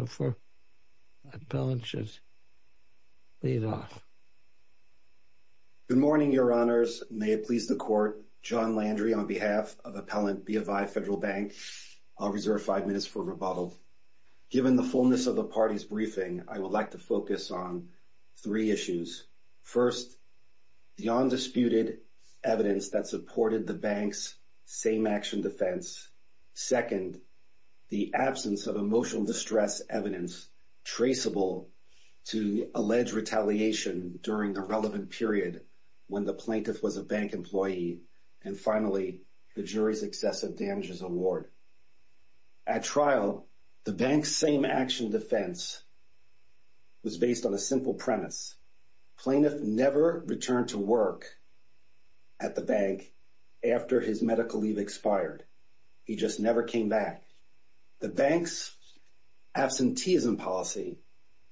Good morning, Your Honors. May it please the Court, John Landry on behalf of Appellant Bofi Federal Bank. I'll reserve five minutes for rebuttal. Given the fullness of the party's briefing, I would like to focus on three issues. First, the undisputed evidence that supported the bank's same-action defense. Second, the absence of emotional distress evidence traceable to alleged retaliation during the relevant period when the plaintiff was a bank employee. And finally, the jury's excessive damages award. At trial, the bank's same-action defense was based on a simple premise. The plaintiff never returned to work at the bank after his medical leave expired. He just never came back. The bank's absenteeism policy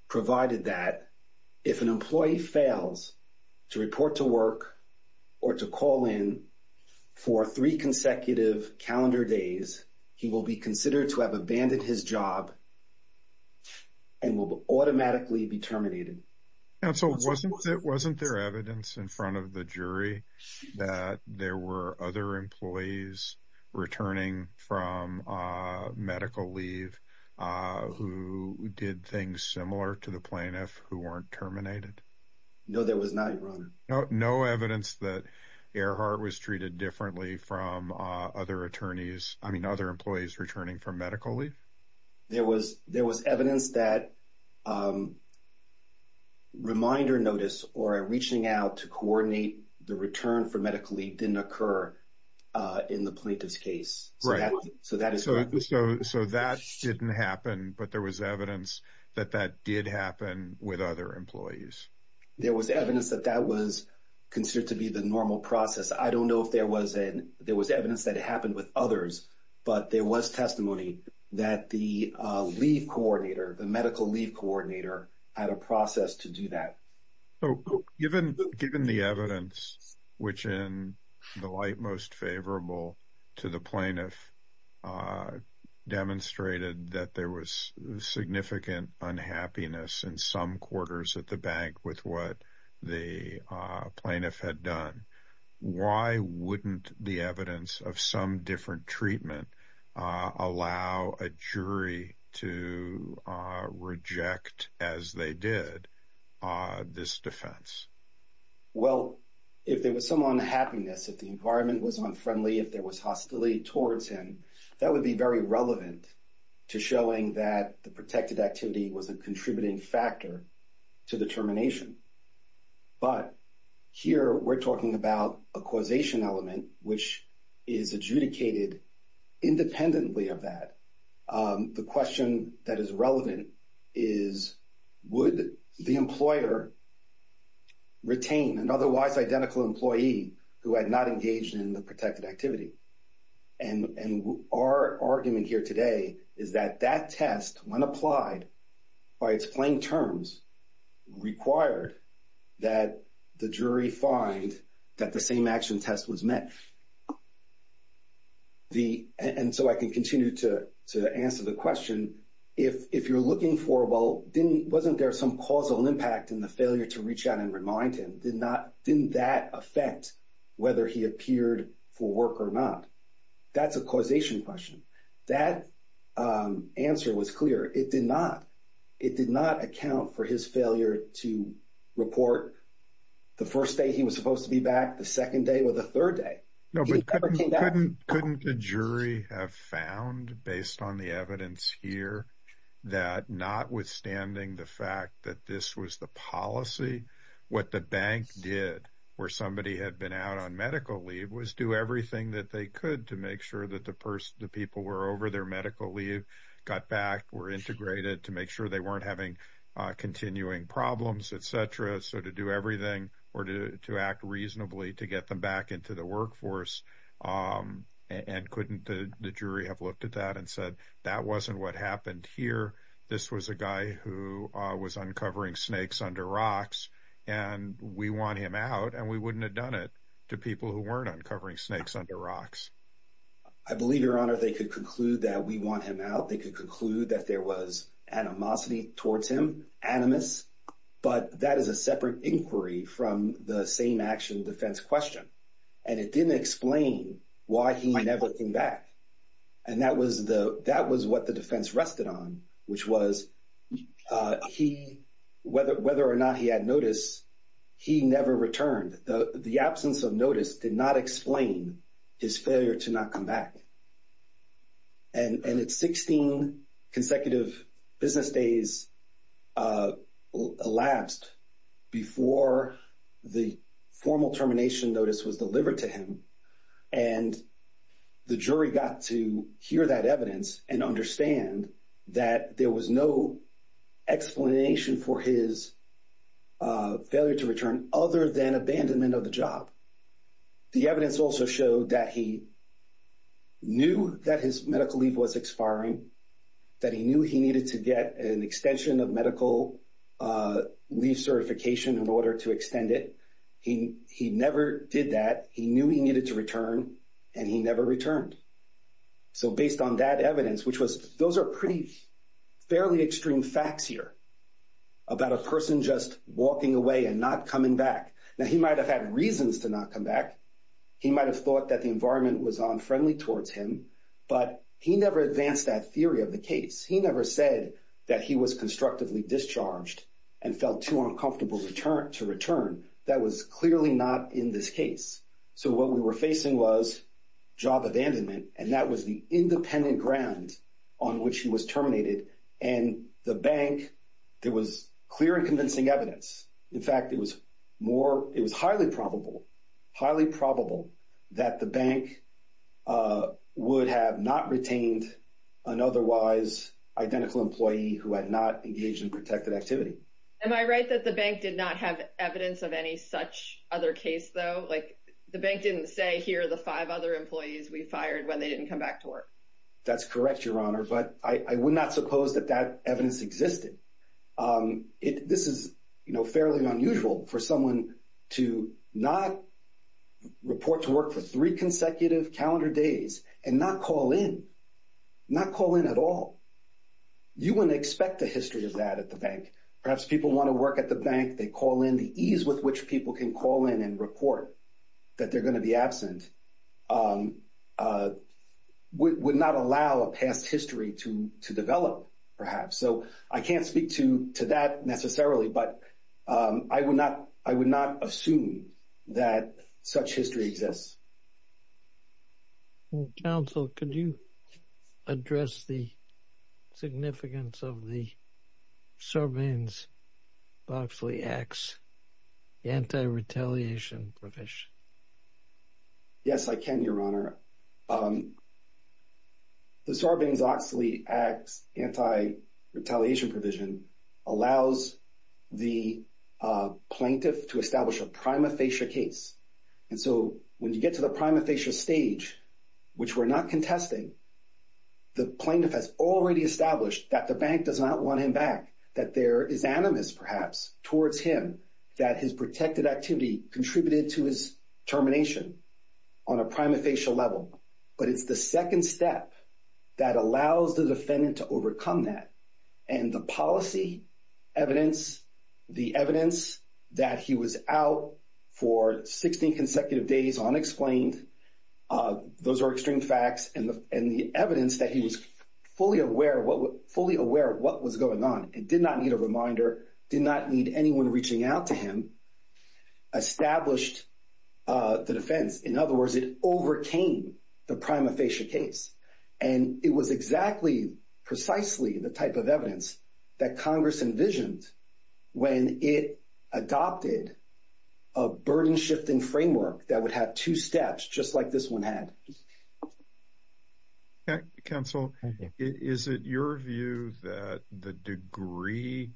provided that if an employee fails to report to work or to call in for three consecutive calendar days, he will be considered to have abandoned his job and will automatically be terminated. Counsel, wasn't there evidence in front of the jury that there were other employees returning from medical leave who did things similar to the plaintiff who weren't terminated? No, there was not, Your Honor. No evidence that Earhart was treated differently from other attorneys, I mean, other employees returning from medical leave? There was evidence that reminder notice or reaching out to coordinate the return for medical leave didn't occur in the plaintiff's case. So that didn't happen, but there was evidence that that did happen with other employees. There was evidence that that was considered to be the normal process. I don't know if there was evidence that it happened with others, but there was testimony that the leave coordinator, the medical leave coordinator, had a process to do that. So given the evidence, which in the light most favorable to the plaintiff demonstrated that there was significant unhappiness in some quarters at the bank with what the plaintiff had done, why wouldn't the evidence of some different treatment allow a jury to reject as they did this defense? Well, if there was some unhappiness, if the environment was unfriendly, if there was hostility towards him, that would be very relevant to showing that the protected activity was a contributing factor to the termination. But here we're talking about a causation element, which is adjudicated independently of that. The question that is relevant is, would the employer retain an otherwise identical employee who had not engaged in the protected activity? And our argument here today is that that test, when applied by its plain terms, required that the jury find that the same action test was met. And so I can continue to answer the question. If you're looking for, well, wasn't there some causal impact in the failure to reach out and remind him? Didn't that affect whether he appeared for work or not? That's a causation question. That answer was clear. It did not. It did not account for his failure to report the first day he was supposed to be back, the second day, or the third day. He never came back. No, but couldn't the jury have found, based on the evidence here, that notwithstanding the fact that this was the policy, what the bank did where somebody had been out on medical leave was do everything that they could to make sure that the people were over their medical leave, got back, were integrated to make sure they weren't having continuing problems, et cetera, so to do everything or to act reasonably to get them back into the workforce? And couldn't the jury have looked at that and said, that wasn't what happened here. This was a guy who was uncovering snakes under rocks, and we want him out, and we wouldn't have done it to people who weren't uncovering snakes under rocks. I believe, Your Honor, they could conclude that we want him out. They could conclude that there was animosity towards him, animus, but that is a separate inquiry from the same action defense question, and it didn't explain why he never came back, and that was what the defense rested on, which was whether or not he had notice, he never returned. The absence of notice did not explain his failure to not come back, and it's 16 consecutive business days elapsed before the formal termination notice was delivered to him, and the jury got to hear that evidence and understand that there was no explanation for his failure to return other than abandonment of the job. The evidence also showed that he knew that his medical leave was expiring, that he knew he needed to get an extension of medical leave certification in order to extend it. He never did that. He knew he needed to return, and he never returned. So, based on that evidence, which was, those are pretty fairly extreme facts here about a person just walking away and not coming back. Now, he might have had reasons to not come back. He might have thought that the environment was unfriendly towards him, but he never advanced that theory of the case. He never said that he was constructively discharged and felt too uncomfortable to return. That was clearly not in this case. So, what we were facing was job abandonment, and that was the independent ground on which he was terminated, and the bank, there was clear and convincing evidence. In fact, it was more, it was highly probable, highly probable that the bank would have not retained an otherwise identical employee who had not engaged in protected activity. Am I right that the bank did not have evidence of any such other case, though? Like, the bank didn't say, here are the five other employees we fired when they didn't come back to work. That's correct, Your Honor, but I would not suppose that that evidence existed. This is, you know, fairly unusual for someone to not report to work for three consecutive calendar days and not call in, not call in at all. You wouldn't expect the history of that at the bank. Perhaps people want to work at the bank. They call in. The ease with which people can call in and report that they're going to be absent would not allow a past history to develop, perhaps. So, I can't speak to that necessarily, but I would not assume that such history exists. Counsel, could you address the significance of the Sarbanes-Oxley Act's anti-retaliation provision? Yes, I can, Your Honor. The Sarbanes-Oxley Act's anti-retaliation provision allows the plaintiff to establish a prima facie case. And so, when you get to the prima facie stage, which we're not contesting, the plaintiff has already established that the bank does not want him back, that there is animus, perhaps, towards him, that his protected activity contributed to his termination on a prima facie level. But it's the second step that allows the defendant to overcome that. And the policy evidence, the evidence that he was out for 16 consecutive days unexplained, those are extreme facts. And the evidence that he was fully aware of what was going on and did not need a reminder, did not need anyone reaching out to him, established the defense. In other words, it overcame the prima facie case. And it was exactly, precisely, the type of evidence that Congress envisioned when it adopted a burden-shifting framework that would have two steps, just like this one had. Counsel, is it your view that the degree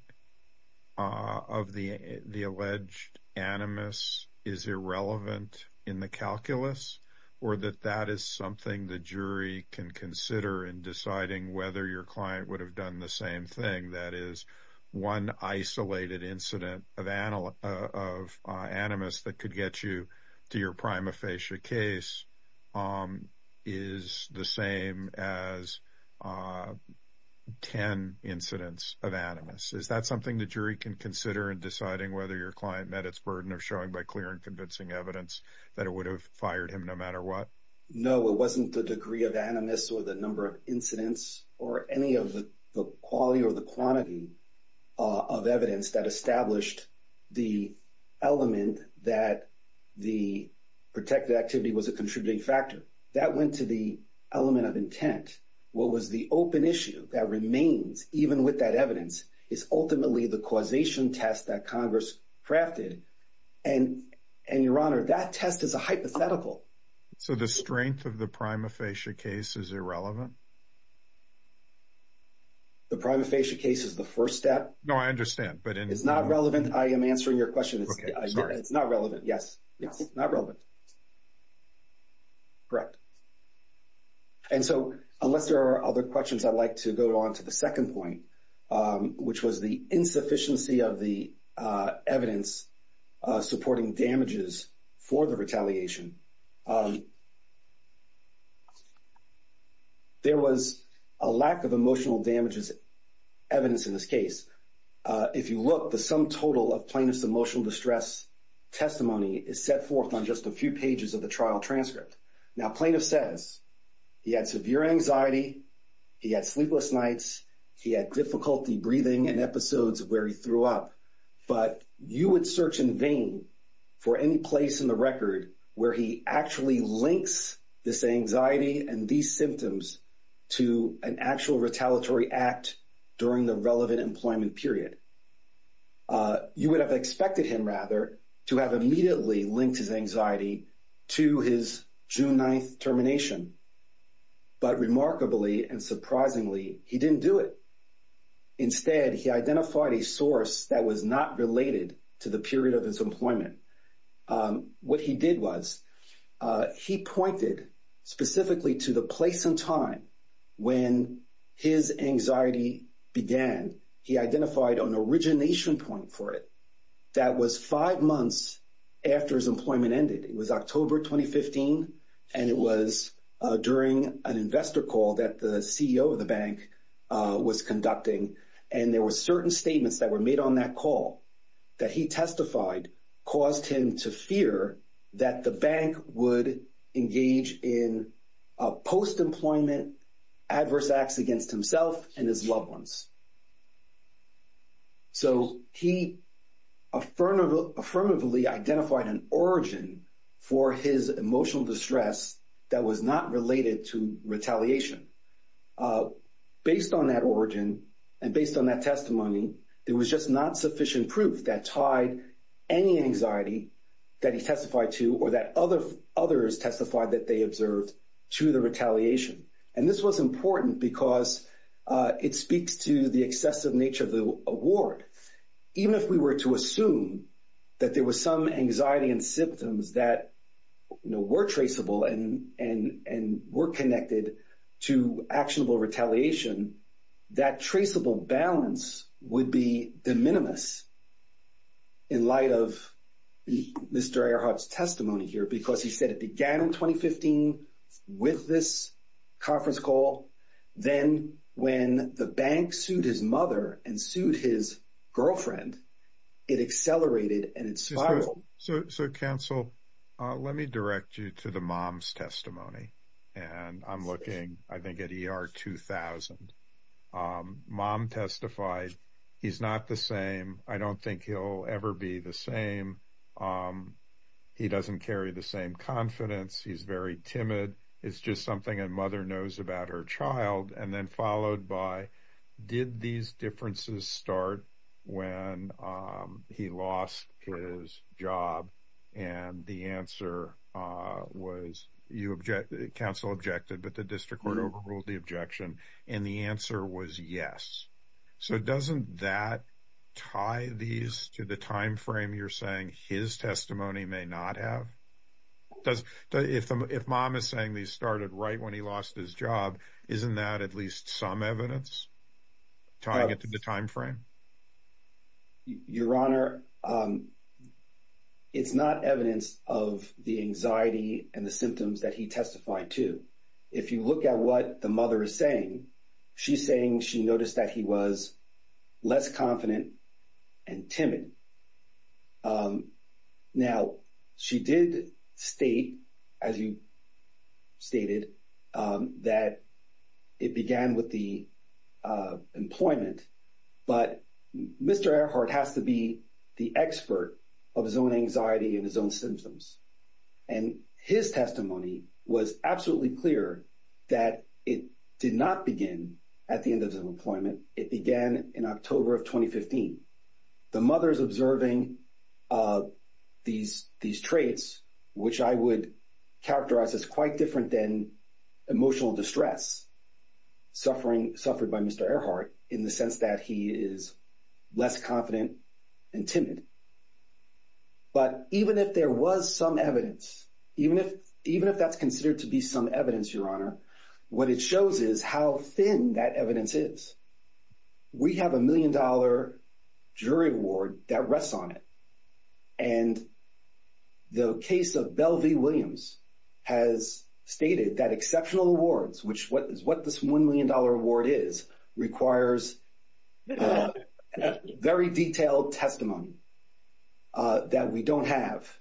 of the alleged animus is irrelevant in the calculus, or that that is something the jury can consider in deciding whether your client would have done the same thing? That is, one isolated incident of animus that could get you to your prima facie case is the same as 10 incidents of animus. Is that something the jury can consider in deciding whether your client met its burden of showing by clear and convincing evidence that it would have fired him no matter what? No, it wasn't the degree of animus or the number of incidents or any of the quality or the quantity of evidence that established the element that the protected activity was a contributing factor. That went to the element of intent. What was the open issue that remains, even with that evidence, is ultimately the causation test that Congress crafted. And your honor, that test is a hypothetical. So the strength of the prima facie case is irrelevant? The prima facie case is the first step. No, I understand, but it's not relevant. I am answering your question. It's not relevant, yes. Correct. And so, unless there are other questions, I'd like to go on to the second point, which was the insufficiency of the evidence supporting damages for the retaliation. There was a lack of emotional damages evidence in this case. If you look, the sum total of plaintiff's emotional distress testimony is set forth on just a few pages of the trial transcript. Now, plaintiff says he had severe anxiety, he had sleepless nights, he had difficulty breathing in episodes where he threw up. But you would search in vain for any place in the record where he actually links this anxiety and these symptoms to an actual retaliatory act during the relevant employment period. You would have expected him, rather, to have immediately linked his anxiety to his June 9th termination. But remarkably and surprisingly, he didn't do it. Instead, he identified a source that was not related to the period of his employment. What he did was, he pointed specifically to the origination point for it that was five months after his employment ended. It was October 2015, and it was during an investor call that the CEO of the bank was conducting. And there were certain statements that were made on that call that he testified caused him to fear that the bank would engage in post-employment adverse acts against himself and his loved ones. So, he affirmatively identified an origin for his emotional distress that was not related to retaliation. Based on that origin, and based on that testimony, there was just not sufficient proof that tied any anxiety that he testified to or that others testified that they observed to the retaliation. This was important because it speaks to the excessive nature of the award. Even if we were to assume that there were some anxiety and symptoms that were traceable and were connected to actionable retaliation, that traceable balance would be de minimis in light of Mr. Earhart's testimony here, because he said it began in 2015 with this conference call. Then, when the bank sued his mother and sued his girlfriend, it accelerated and it spiraled. So, counsel, let me direct you to the mom's testimony. And I'm looking, I think, at ER 2000. Mom testified, he's not the same. I don't think he'll ever be the same. He doesn't carry the same confidence. He's very timid. It's just something a mother knows about her child. And then followed by, did these differences start when he lost his job? And the answer was, counsel objected, but the district court overruled the objection. And the answer was yes. So, doesn't that tie these to the time frame you're saying his testimony may not have? If mom is saying these started right when he lost his job, isn't that at least some evidence tying it to the time frame? Your Honor, it's not evidence of the anxiety and the symptoms that he testified to. If you look at what the mother is saying, she's saying she noticed that he was less confident and timid. Now, she did state, as you stated, that it began with the employment. But Mr. Earhart has to be the expert of his own anxiety and his own symptoms. And his testimony was absolutely clear that it did not begin at the end of the employment. It began in October of 2015. The mother is observing these traits, which I would characterize as quite different than emotional distress suffered by Mr. Earhart in the sense that he is less confident and timid. But even if there was some evidence, even if that's considered to be some evidence, Your Honor, what it shows is how thin that evidence is. We have a million-dollar jury award that rests on it. And the case of Bell v. Williams has stated that exceptional awards, what this million-dollar award is, requires a very detailed testimony that we don't have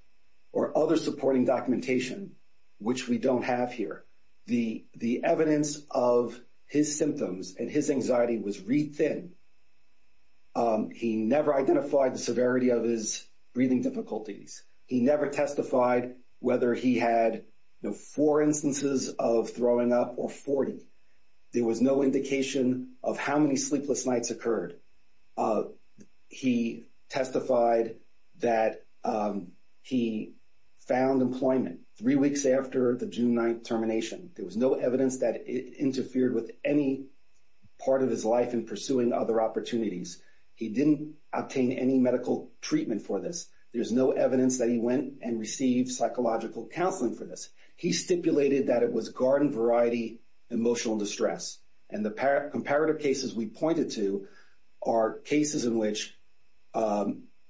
or other supporting documentation, which we don't have here. The evidence of his symptoms and his anxiety was re-thin. He never identified the severity of his breathing difficulties. He never testified whether he had four instances of throwing up or 40. There was no indication of how many sleepless nights occurred. He testified that he found employment three weeks after the June 9th termination. There was no evidence that it interfered with any part of his life in pursuing other opportunities. He didn't obtain any medical treatment for this. There's no evidence that he and received psychological counseling for this. He stipulated that it was garden-variety emotional distress. And the comparative cases we pointed to are cases in which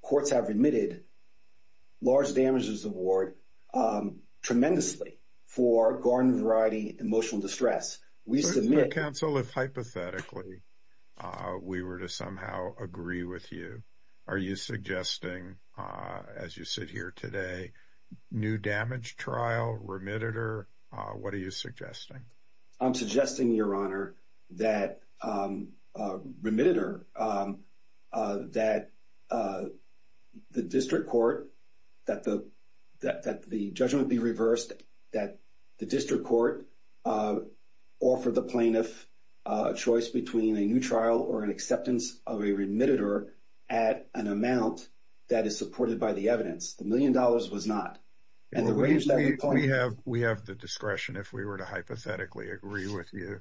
courts have admitted large damages award tremendously for garden-variety emotional distress. We submit- We were to somehow agree with you. Are you suggesting, as you sit here today, new damage trial, remittitor? What are you suggesting? I'm suggesting, Your Honor, that remittitor, that the district court, that the judgment be reversed, that the district court offered the plaintiff a choice between a new trial or an acceptance of a remittitor at an amount that is supported by the evidence. The million dollars was not. We have the discretion, if we were to hypothetically agree with you,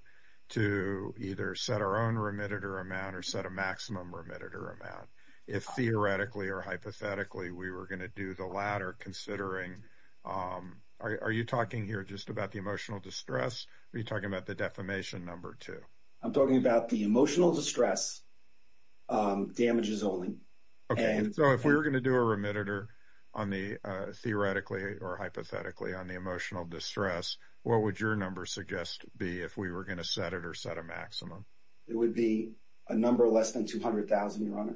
to either set our own remittitor amount or set a maximum remittitor amount. If, theoretically or hypothetically, we were going to do the latter, considering- Are you talking here just about the emotional distress? Are you talking about the defamation number, too? I'm talking about the emotional distress, damages only. Okay. So, if we were going to do a remittitor, theoretically or hypothetically, on the emotional distress, what would your number suggest be if we were going to set it or set a maximum? It would be a number less than $200,000, Your Honor.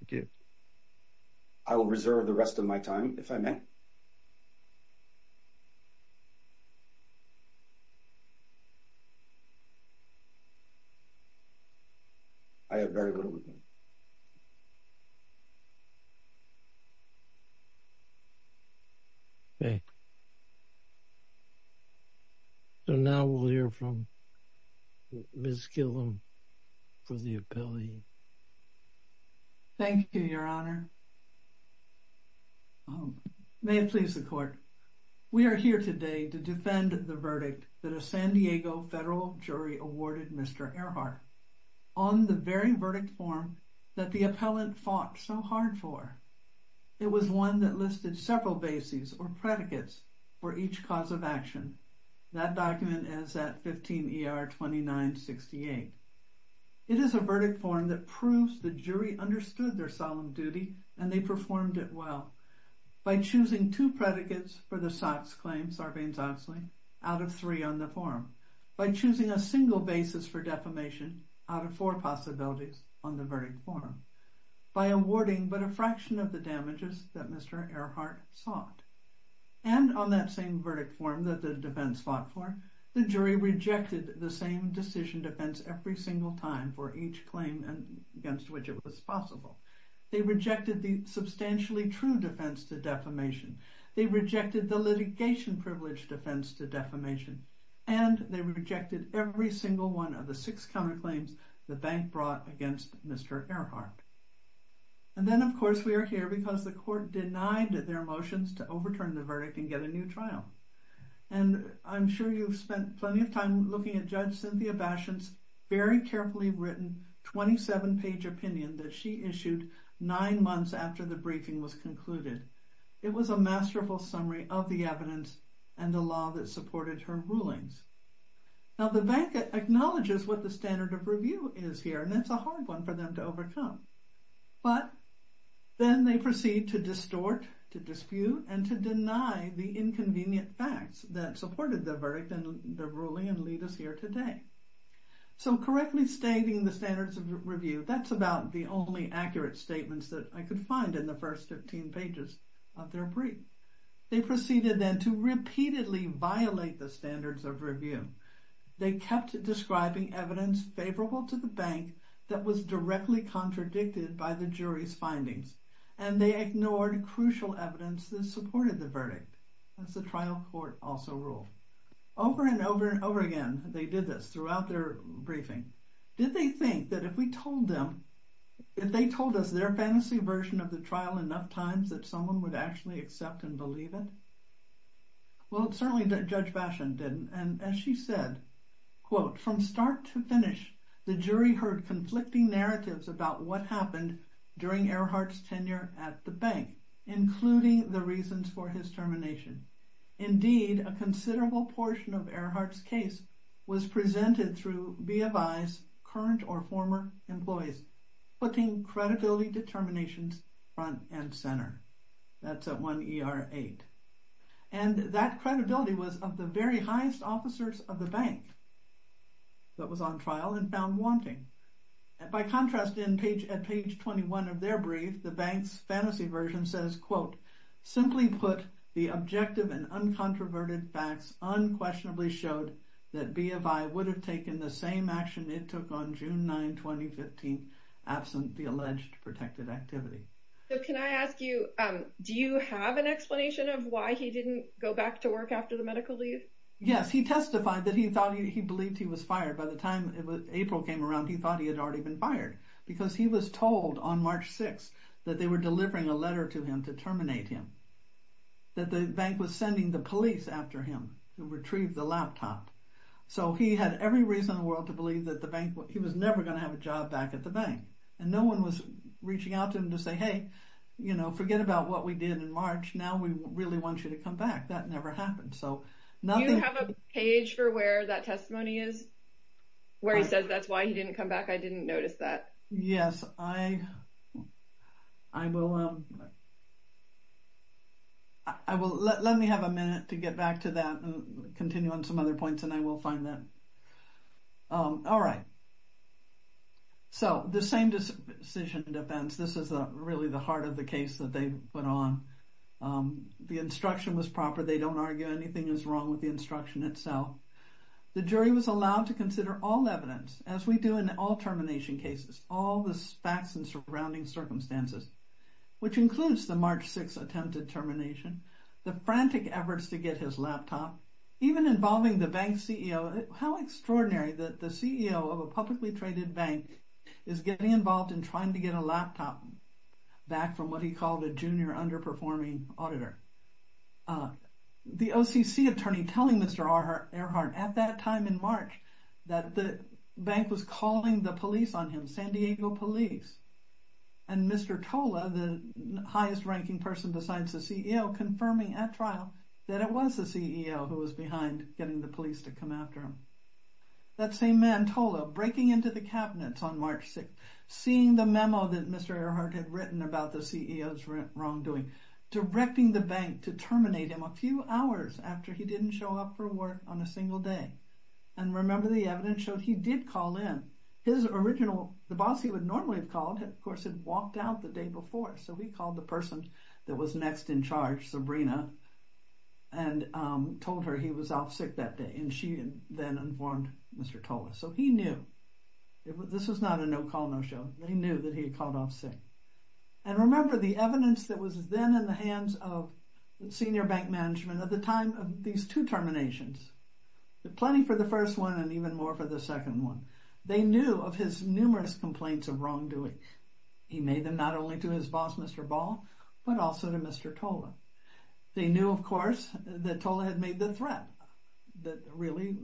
Thank you. I will reserve the rest of my time, if I may. I have very little time. Okay. So, now we'll hear from Ms. Gillum for the ability. Thank you, Your Honor. May it please the Court. We are here today to defend the verdict that a San Diego federal jury awarded Mr. Earhart on the very verdict form that the appellant fought so hard for. It was one that listed several bases or predicates for each cause of action. That document is at 15 ER 2968. It is a verdict form that proves the jury understood their solemn duty and they performed it well by choosing two predicates for the Sox claim, Sarbanes-Oxley, out of three on the form, by choosing a single basis for defamation out of four possibilities on the verdict form, by awarding but a fraction of the damages that Mr. Earhart sought. And on that verdict form that the defense fought for, the jury rejected the same decision defense every single time for each claim against which it was possible. They rejected the substantially true defense to defamation. They rejected the litigation privilege defense to defamation. And they rejected every single one of the six counterclaims the bank brought against Mr. Earhart. And then, of course, we are here because the court denied their motions to overturn the verdict and get a new trial. And I'm sure you've spent plenty of time looking at Judge Cynthia Basham's very carefully written 27-page opinion that she issued nine months after the briefing was concluded. It was a masterful summary of the evidence and the law that supported her rulings. Now, the bank acknowledges what the standard of review is here, and that's a hard one for them to overcome. But then they proceed to distort, to dispute, and to deny the inconvenient facts that supported the verdict and the ruling and lead us here today. So correctly stating the standards of review, that's about the only accurate statements that I could find in the first 15 pages of their brief. They proceeded then to repeatedly violate the standards of review. They kept describing evidence favorable to the bank that was directly contradicted by the jury's findings. And they ignored crucial evidence that supported the verdict, as the trial court also ruled. Over and over and over again, they did this throughout their briefing. Did they think that if we told them, if they told us their fantasy version of the trial enough times that someone would accept and believe it? Well, certainly Judge Basham didn't. And as she said, from start to finish, the jury heard conflicting narratives about what happened during Earhart's tenure at the bank, including the reasons for his termination. Indeed, a considerable portion of Earhart's case was presented through BFI's current or former employees, putting credibility determinations front and center. That's at 1 ER 8. And that credibility was of the very highest officers of the bank that was on trial and found wanting. And by contrast, at page 21 of their brief, the bank's fantasy version says, quote, simply put, the objective and uncontroverted facts unquestionably showed that BFI would have taken the same action it took on June 9, 2015, absent the alleged protected activity. So can I ask you, do you have an explanation of why he didn't go back to work after the medical leave? Yes, he testified that he thought he believed he was fired. By the time April came around, he thought he had already been fired, because he was told on March 6 that they were delivering a letter to him to terminate him, that the bank was sending the police after him to retrieve the laptop. So he had every reason in the world to the bank. And no one was reaching out to him to say, hey, forget about what we did in March. Now we really want you to come back. That never happened. So nothing- Do you have a page for where that testimony is, where he says that's why he didn't come back? I didn't notice that. Yes. Let me have a minute to get back to that and continue on some other points, and I will find that. All right. So the same decision in defense. This is really the heart of the case that they put on. The instruction was proper. They don't argue anything is wrong with the instruction itself. The jury was allowed to consider all evidence, as we do in all termination cases, all the facts and surrounding circumstances, which includes the March 6 attempted termination, the frantic efforts to get his laptop, even involving the bank CEO. How extraordinary that the CEO of a publicly traded bank is getting involved in trying to get a laptop back from what he called a junior underperforming auditor. The OCC attorney telling Mr. Earhart at that time in March that the bank was calling the police on him, San Diego police. And Mr. Tola, the trial, that it was the CEO who was behind getting the police to come after him. That same man, Tola, breaking into the cabinets on March 6, seeing the memo that Mr. Earhart had written about the CEO's wrongdoing, directing the bank to terminate him a few hours after he didn't show up for work on a single day. And remember, the evidence showed he did call in. His original, the boss he would normally have called, of course, had walked out the day before. So he called the that was next in charge, Sabrina, and told her he was off sick that day. And she then informed Mr. Tola. So he knew. This was not a no call, no show. He knew that he had called off sick. And remember the evidence that was then in the hands of senior bank management at the time of these two terminations, plenty for the first one and even more for the second one. They knew of his numerous complaints of wrongdoing. He made them not only to his boss, Mr. Ball, but also to Mr. Tola. They knew, of course, that Tola had made the threat that really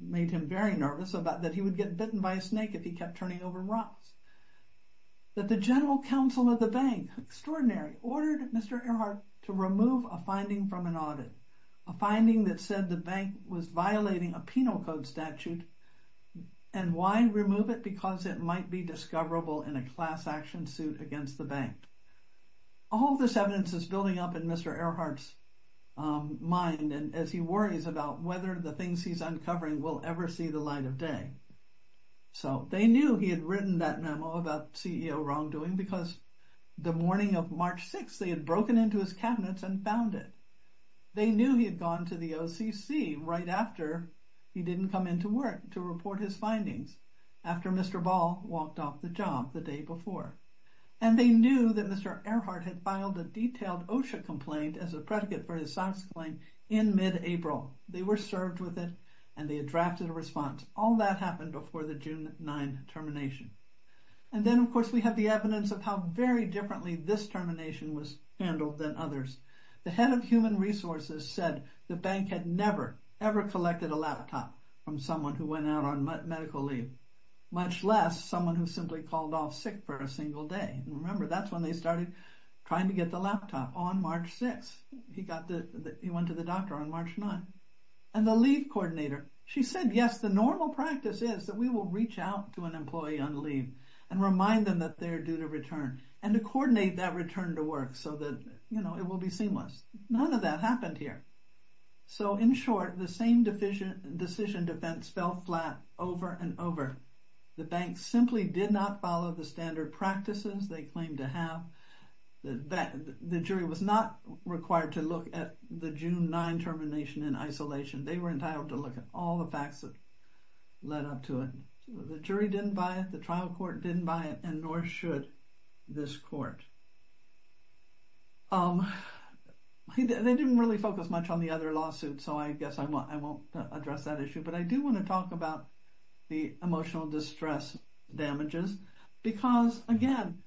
made him very nervous about that he would get bitten by a snake if he kept turning over rocks. That the general counsel of the bank, extraordinary, ordered Mr. Earhart to remove a finding from an audit, a finding that said the bank was violating a penal code statute and why remove it? Because it might be discoverable in a class action suit against the bank. All this evidence is building up in Mr. Earhart's mind and as he worries about whether the things he's uncovering will ever see the light of day. So they knew he had written that memo about CEO wrongdoing because the morning of March 6th, they had broken into his cabinets and found it. They knew he had gone to the OCC right after he didn't come into work to report his findings after Mr. Ball walked off the job the day before. And they knew that Mr. Earhart had filed a detailed OSHA complaint as a predicate for his SOX claim in mid-April. They were served with it and they had drafted a response. All that happened before the June 9 termination. And then, of course, we have the evidence of how very differently this termination was handled than others. The head of human resources said the bank had never ever collected a laptop from someone who went out on medical leave, much less someone who simply called off sick for a single day. Remember, that's when they started trying to get the laptop on March 6th. He went to the doctor on March 9th. And the leave coordinator, she said, yes, the normal practice is that we will reach out to an employee on leave and remind them that they're due to return and to you know it will be seamless. None of that happened here. So, in short, the same decision defense fell flat over and over. The bank simply did not follow the standard practices they claimed to have. The jury was not required to look at the June 9 termination in isolation. They were entitled to look at all the facts that led up to it. The jury didn't buy it. The trial court didn't buy it, and nor should this court. They didn't really focus much on the other lawsuit, so I guess I won't address that issue. But I do want to talk about the emotional distress damages because, again,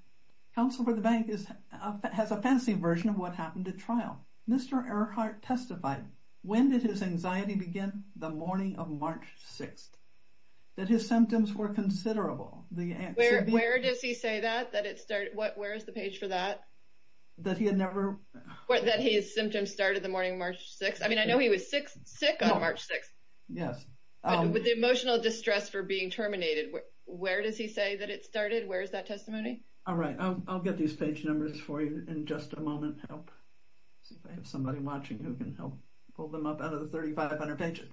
Counsel for the Bank has a fancy version of what happened at trial. Mr. Earhart testified when did his anxiety begin? The morning of March 6th. That his symptoms were considerable. Where does he say that, that it started? Where is the page for that? That he had never... That his symptoms started the morning of March 6th? I mean, I know he was sick on March 6th. Yes. With the emotional distress for being terminated, where does he say that it started? Where is that testimony? All right, I'll get these page numbers for you in just a moment. See if I have somebody watching who can help pull them up out of the 3,500 pages.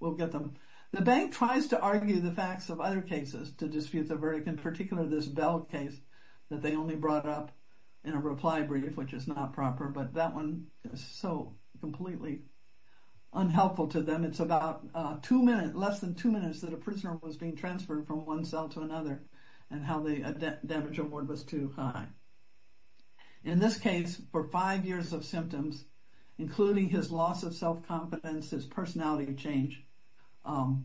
We'll get them. The bank tries to argue the facts of other cases to dispute the verdict, in particular this Bell case that they only brought up in a reply brief, which is not proper. But that one is so completely unhelpful to them. It's about less than two minutes that a prisoner was being transferred from one cell to another, and how the damage award was too high. In this case, for five years of symptoms, including his loss of self-confidence, his personality change, $1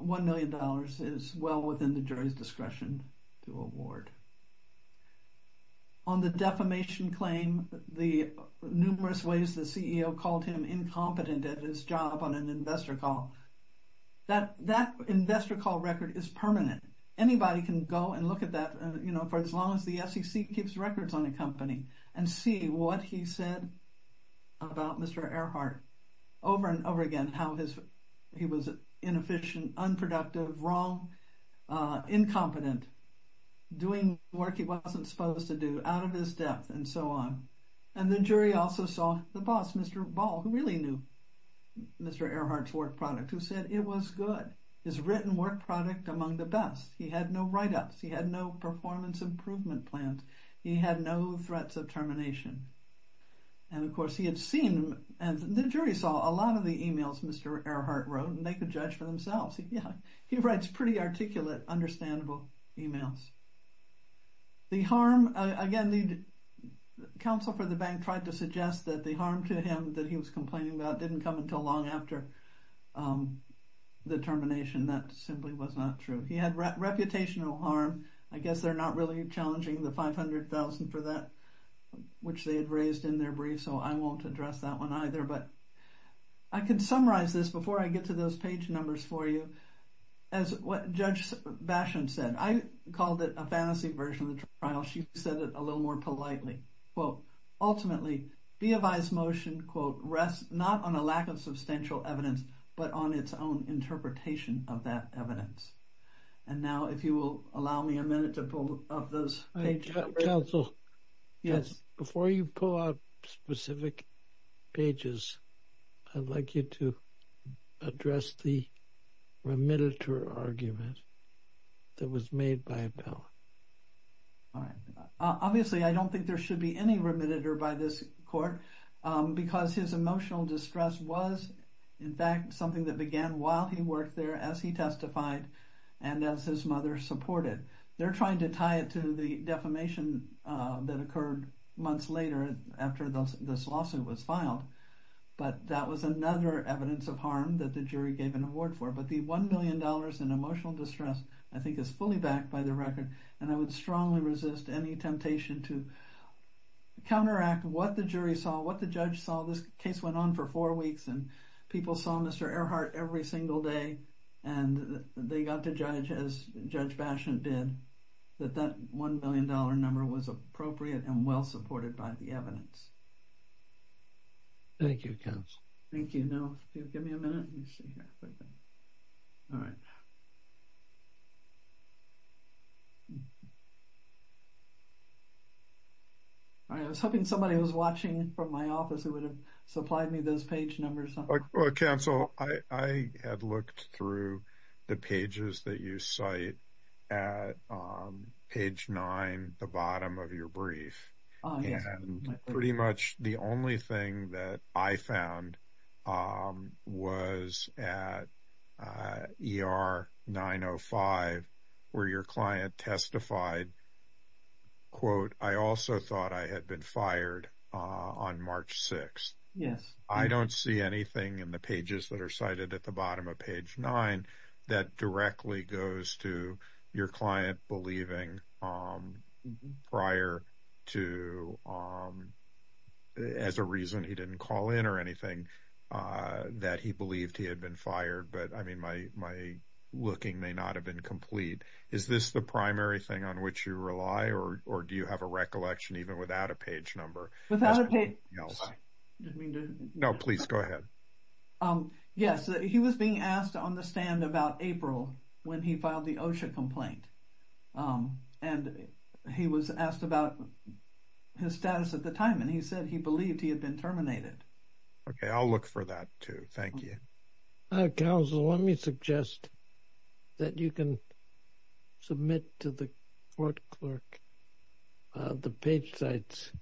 million is well within the jury's discretion to award. On the defamation claim, the numerous ways the CEO called him incompetent at his job on an investor call, that investor call record is permanent. Anybody can go and look at that, for as long as the SEC keeps records on the company, and see what he said about Mr. Earhart over and over again, how he was inefficient, unproductive, wrong, incompetent, doing work he wasn't supposed to do, out of his depth, and so on. The jury also saw the boss, Mr. Ball, who really knew Mr. Earhart's work product, who said it was good, his written work product among the best. He had no write-ups. He had no performance improvement plans. He had no threats of termination. And of course, he had seen, and the jury saw, a lot of the emails Mr. Earhart wrote, and they could judge for themselves. He writes pretty articulate, understandable emails. The harm, again, the counsel for the bank tried to suggest that the harm to him that he was complaining about didn't come until long after the termination. That simply was not true. He had reputational harm. I guess they're not really challenging the $500,000 for that, which they had raised in their brief, so I won't address that one either. But I can summarize this before I get to those page numbers for you, as what Judge Basham said. I called it a fantasy version of the trial. She said it a little more politely. Quote, ultimately, BFI's motion, quote, rests not on a lack of substantial evidence, but on its own interpretation of that evidence. And now, if you will allow me a minute to pull up those pages. Counsel, before you pull up specific pages, I'd like you to address the remitter argument that was made by Bell. All right. Obviously, I don't think there should be any remitter by this court, because his emotional distress was, in fact, something that began while he worked there, as he testified, and as his mother supported. They're trying to tie it to the defamation that occurred months later, after this lawsuit was filed. But that was another evidence of harm that the jury gave an award for. But the $1 million in emotional distress, I think, is fully backed by the record. And I would strongly resist any temptation to counteract what the jury saw, what the judge saw. This case went on for four weeks, and people saw Mr. Earhart every single day. And they got to judge, as Judge Basham did, that that $1 million number was appropriate and well-supported by the evidence. Thank you, Counsel. Thank you. Now, if you'll give me a minute, let me see here. All right. All right. I was hoping somebody was watching from my office who would have supplied me those page numbers. Well, Counsel, I had looked through the pages that you cite at page nine, the bottom of your brief. And pretty much the only thing that I found was at ER 905, where your client testified, quote, I also thought I had been fired on March 6th. Yes. I don't see anything in the pages that are cited at the bottom of page nine that directly goes to your client believing prior to, as a reason he didn't call in or anything, that he believed he had been fired. But, I mean, my looking may not have been complete. Is this the primary thing on which you rely, or do you have a recollection even without a page number? Without a page... No, please, go ahead. Yes. He was being asked on the stand about April when he filed the OSHA complaint, and he was asked about his status at the time, and he said he believed he had been terminated. Okay. I'll look for that, too. Thank you. Counsel, let me suggest that you can submit to the court clerk the page sites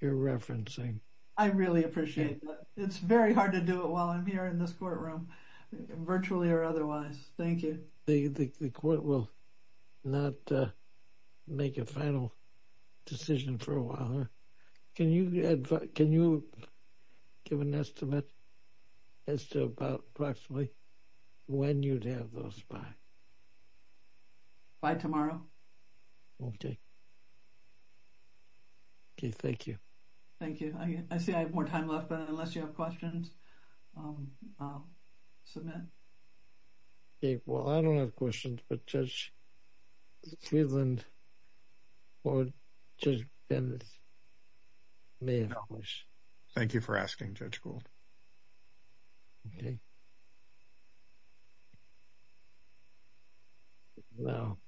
you're referencing. I really appreciate that. It's very hard to do it while I'm here in this courtroom, virtually or otherwise. Thank you. The court will not make a final decision for a while. Can you give an estimate as to about approximately when you'd have those by? By tomorrow. Okay. Okay. Thank you. Thank you. I see I have more time left, but unless you have questions, I'll submit. Okay. Well, I don't have questions, but Judge Cleveland or Judge Bendis may have questions. Thank you for asking, Judge Gould. Okay. Now,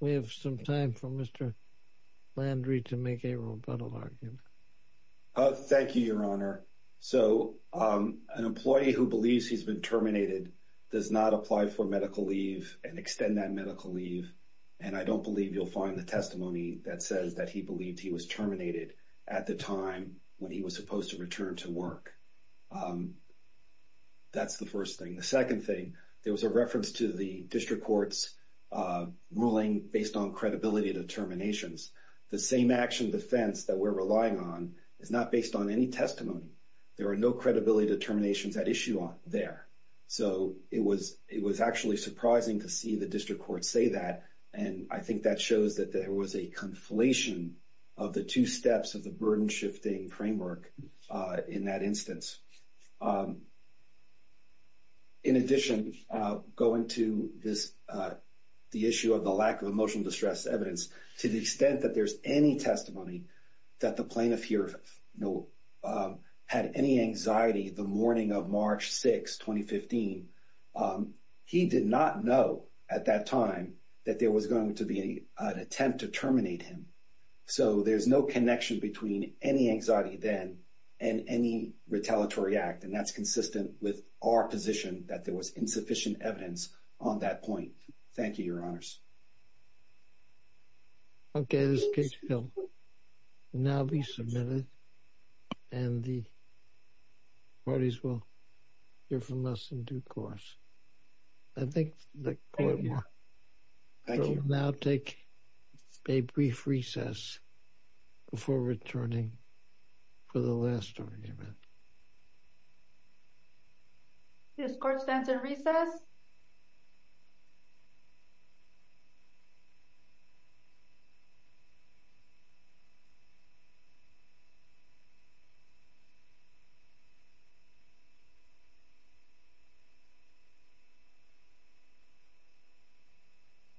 we have some time for Mr. Landry to make a rebuttal argument. Thank you, Your Honor. So an employee who believes he's been terminated does not apply for medical leave and extend that medical leave, and I don't believe you'll find the testimony that says that he believed he was terminated at the time when he was supposed to return to work. That's the first thing. The second thing, there was a reference to the district court's ruling based on credibility determinations. The same action defense that we're relying on is not based on any testimony. There are no credibility determinations at issue there. So it was actually surprising to see the district court say that, and I think that shows that there was a conflation of the two steps of the burden-shifting framework in that instance. In addition, going to the issue of the lack of emotional distress evidence, to the extent that there's any testimony that the plaintiff here had any anxiety the morning of March 6, 2015, he did not know at that time that there was going to be an attempt to terminate him. So there's no connection between any anxiety then and any retaliatory act, and that's consistent with our position that there was insufficient evidence on that point. Thank you, Your Honors. Okay. This case will now be submitted, and the parties will hear from us in due course. I think the court will now take a brief recess before returning for the last argument. The court stands at recess.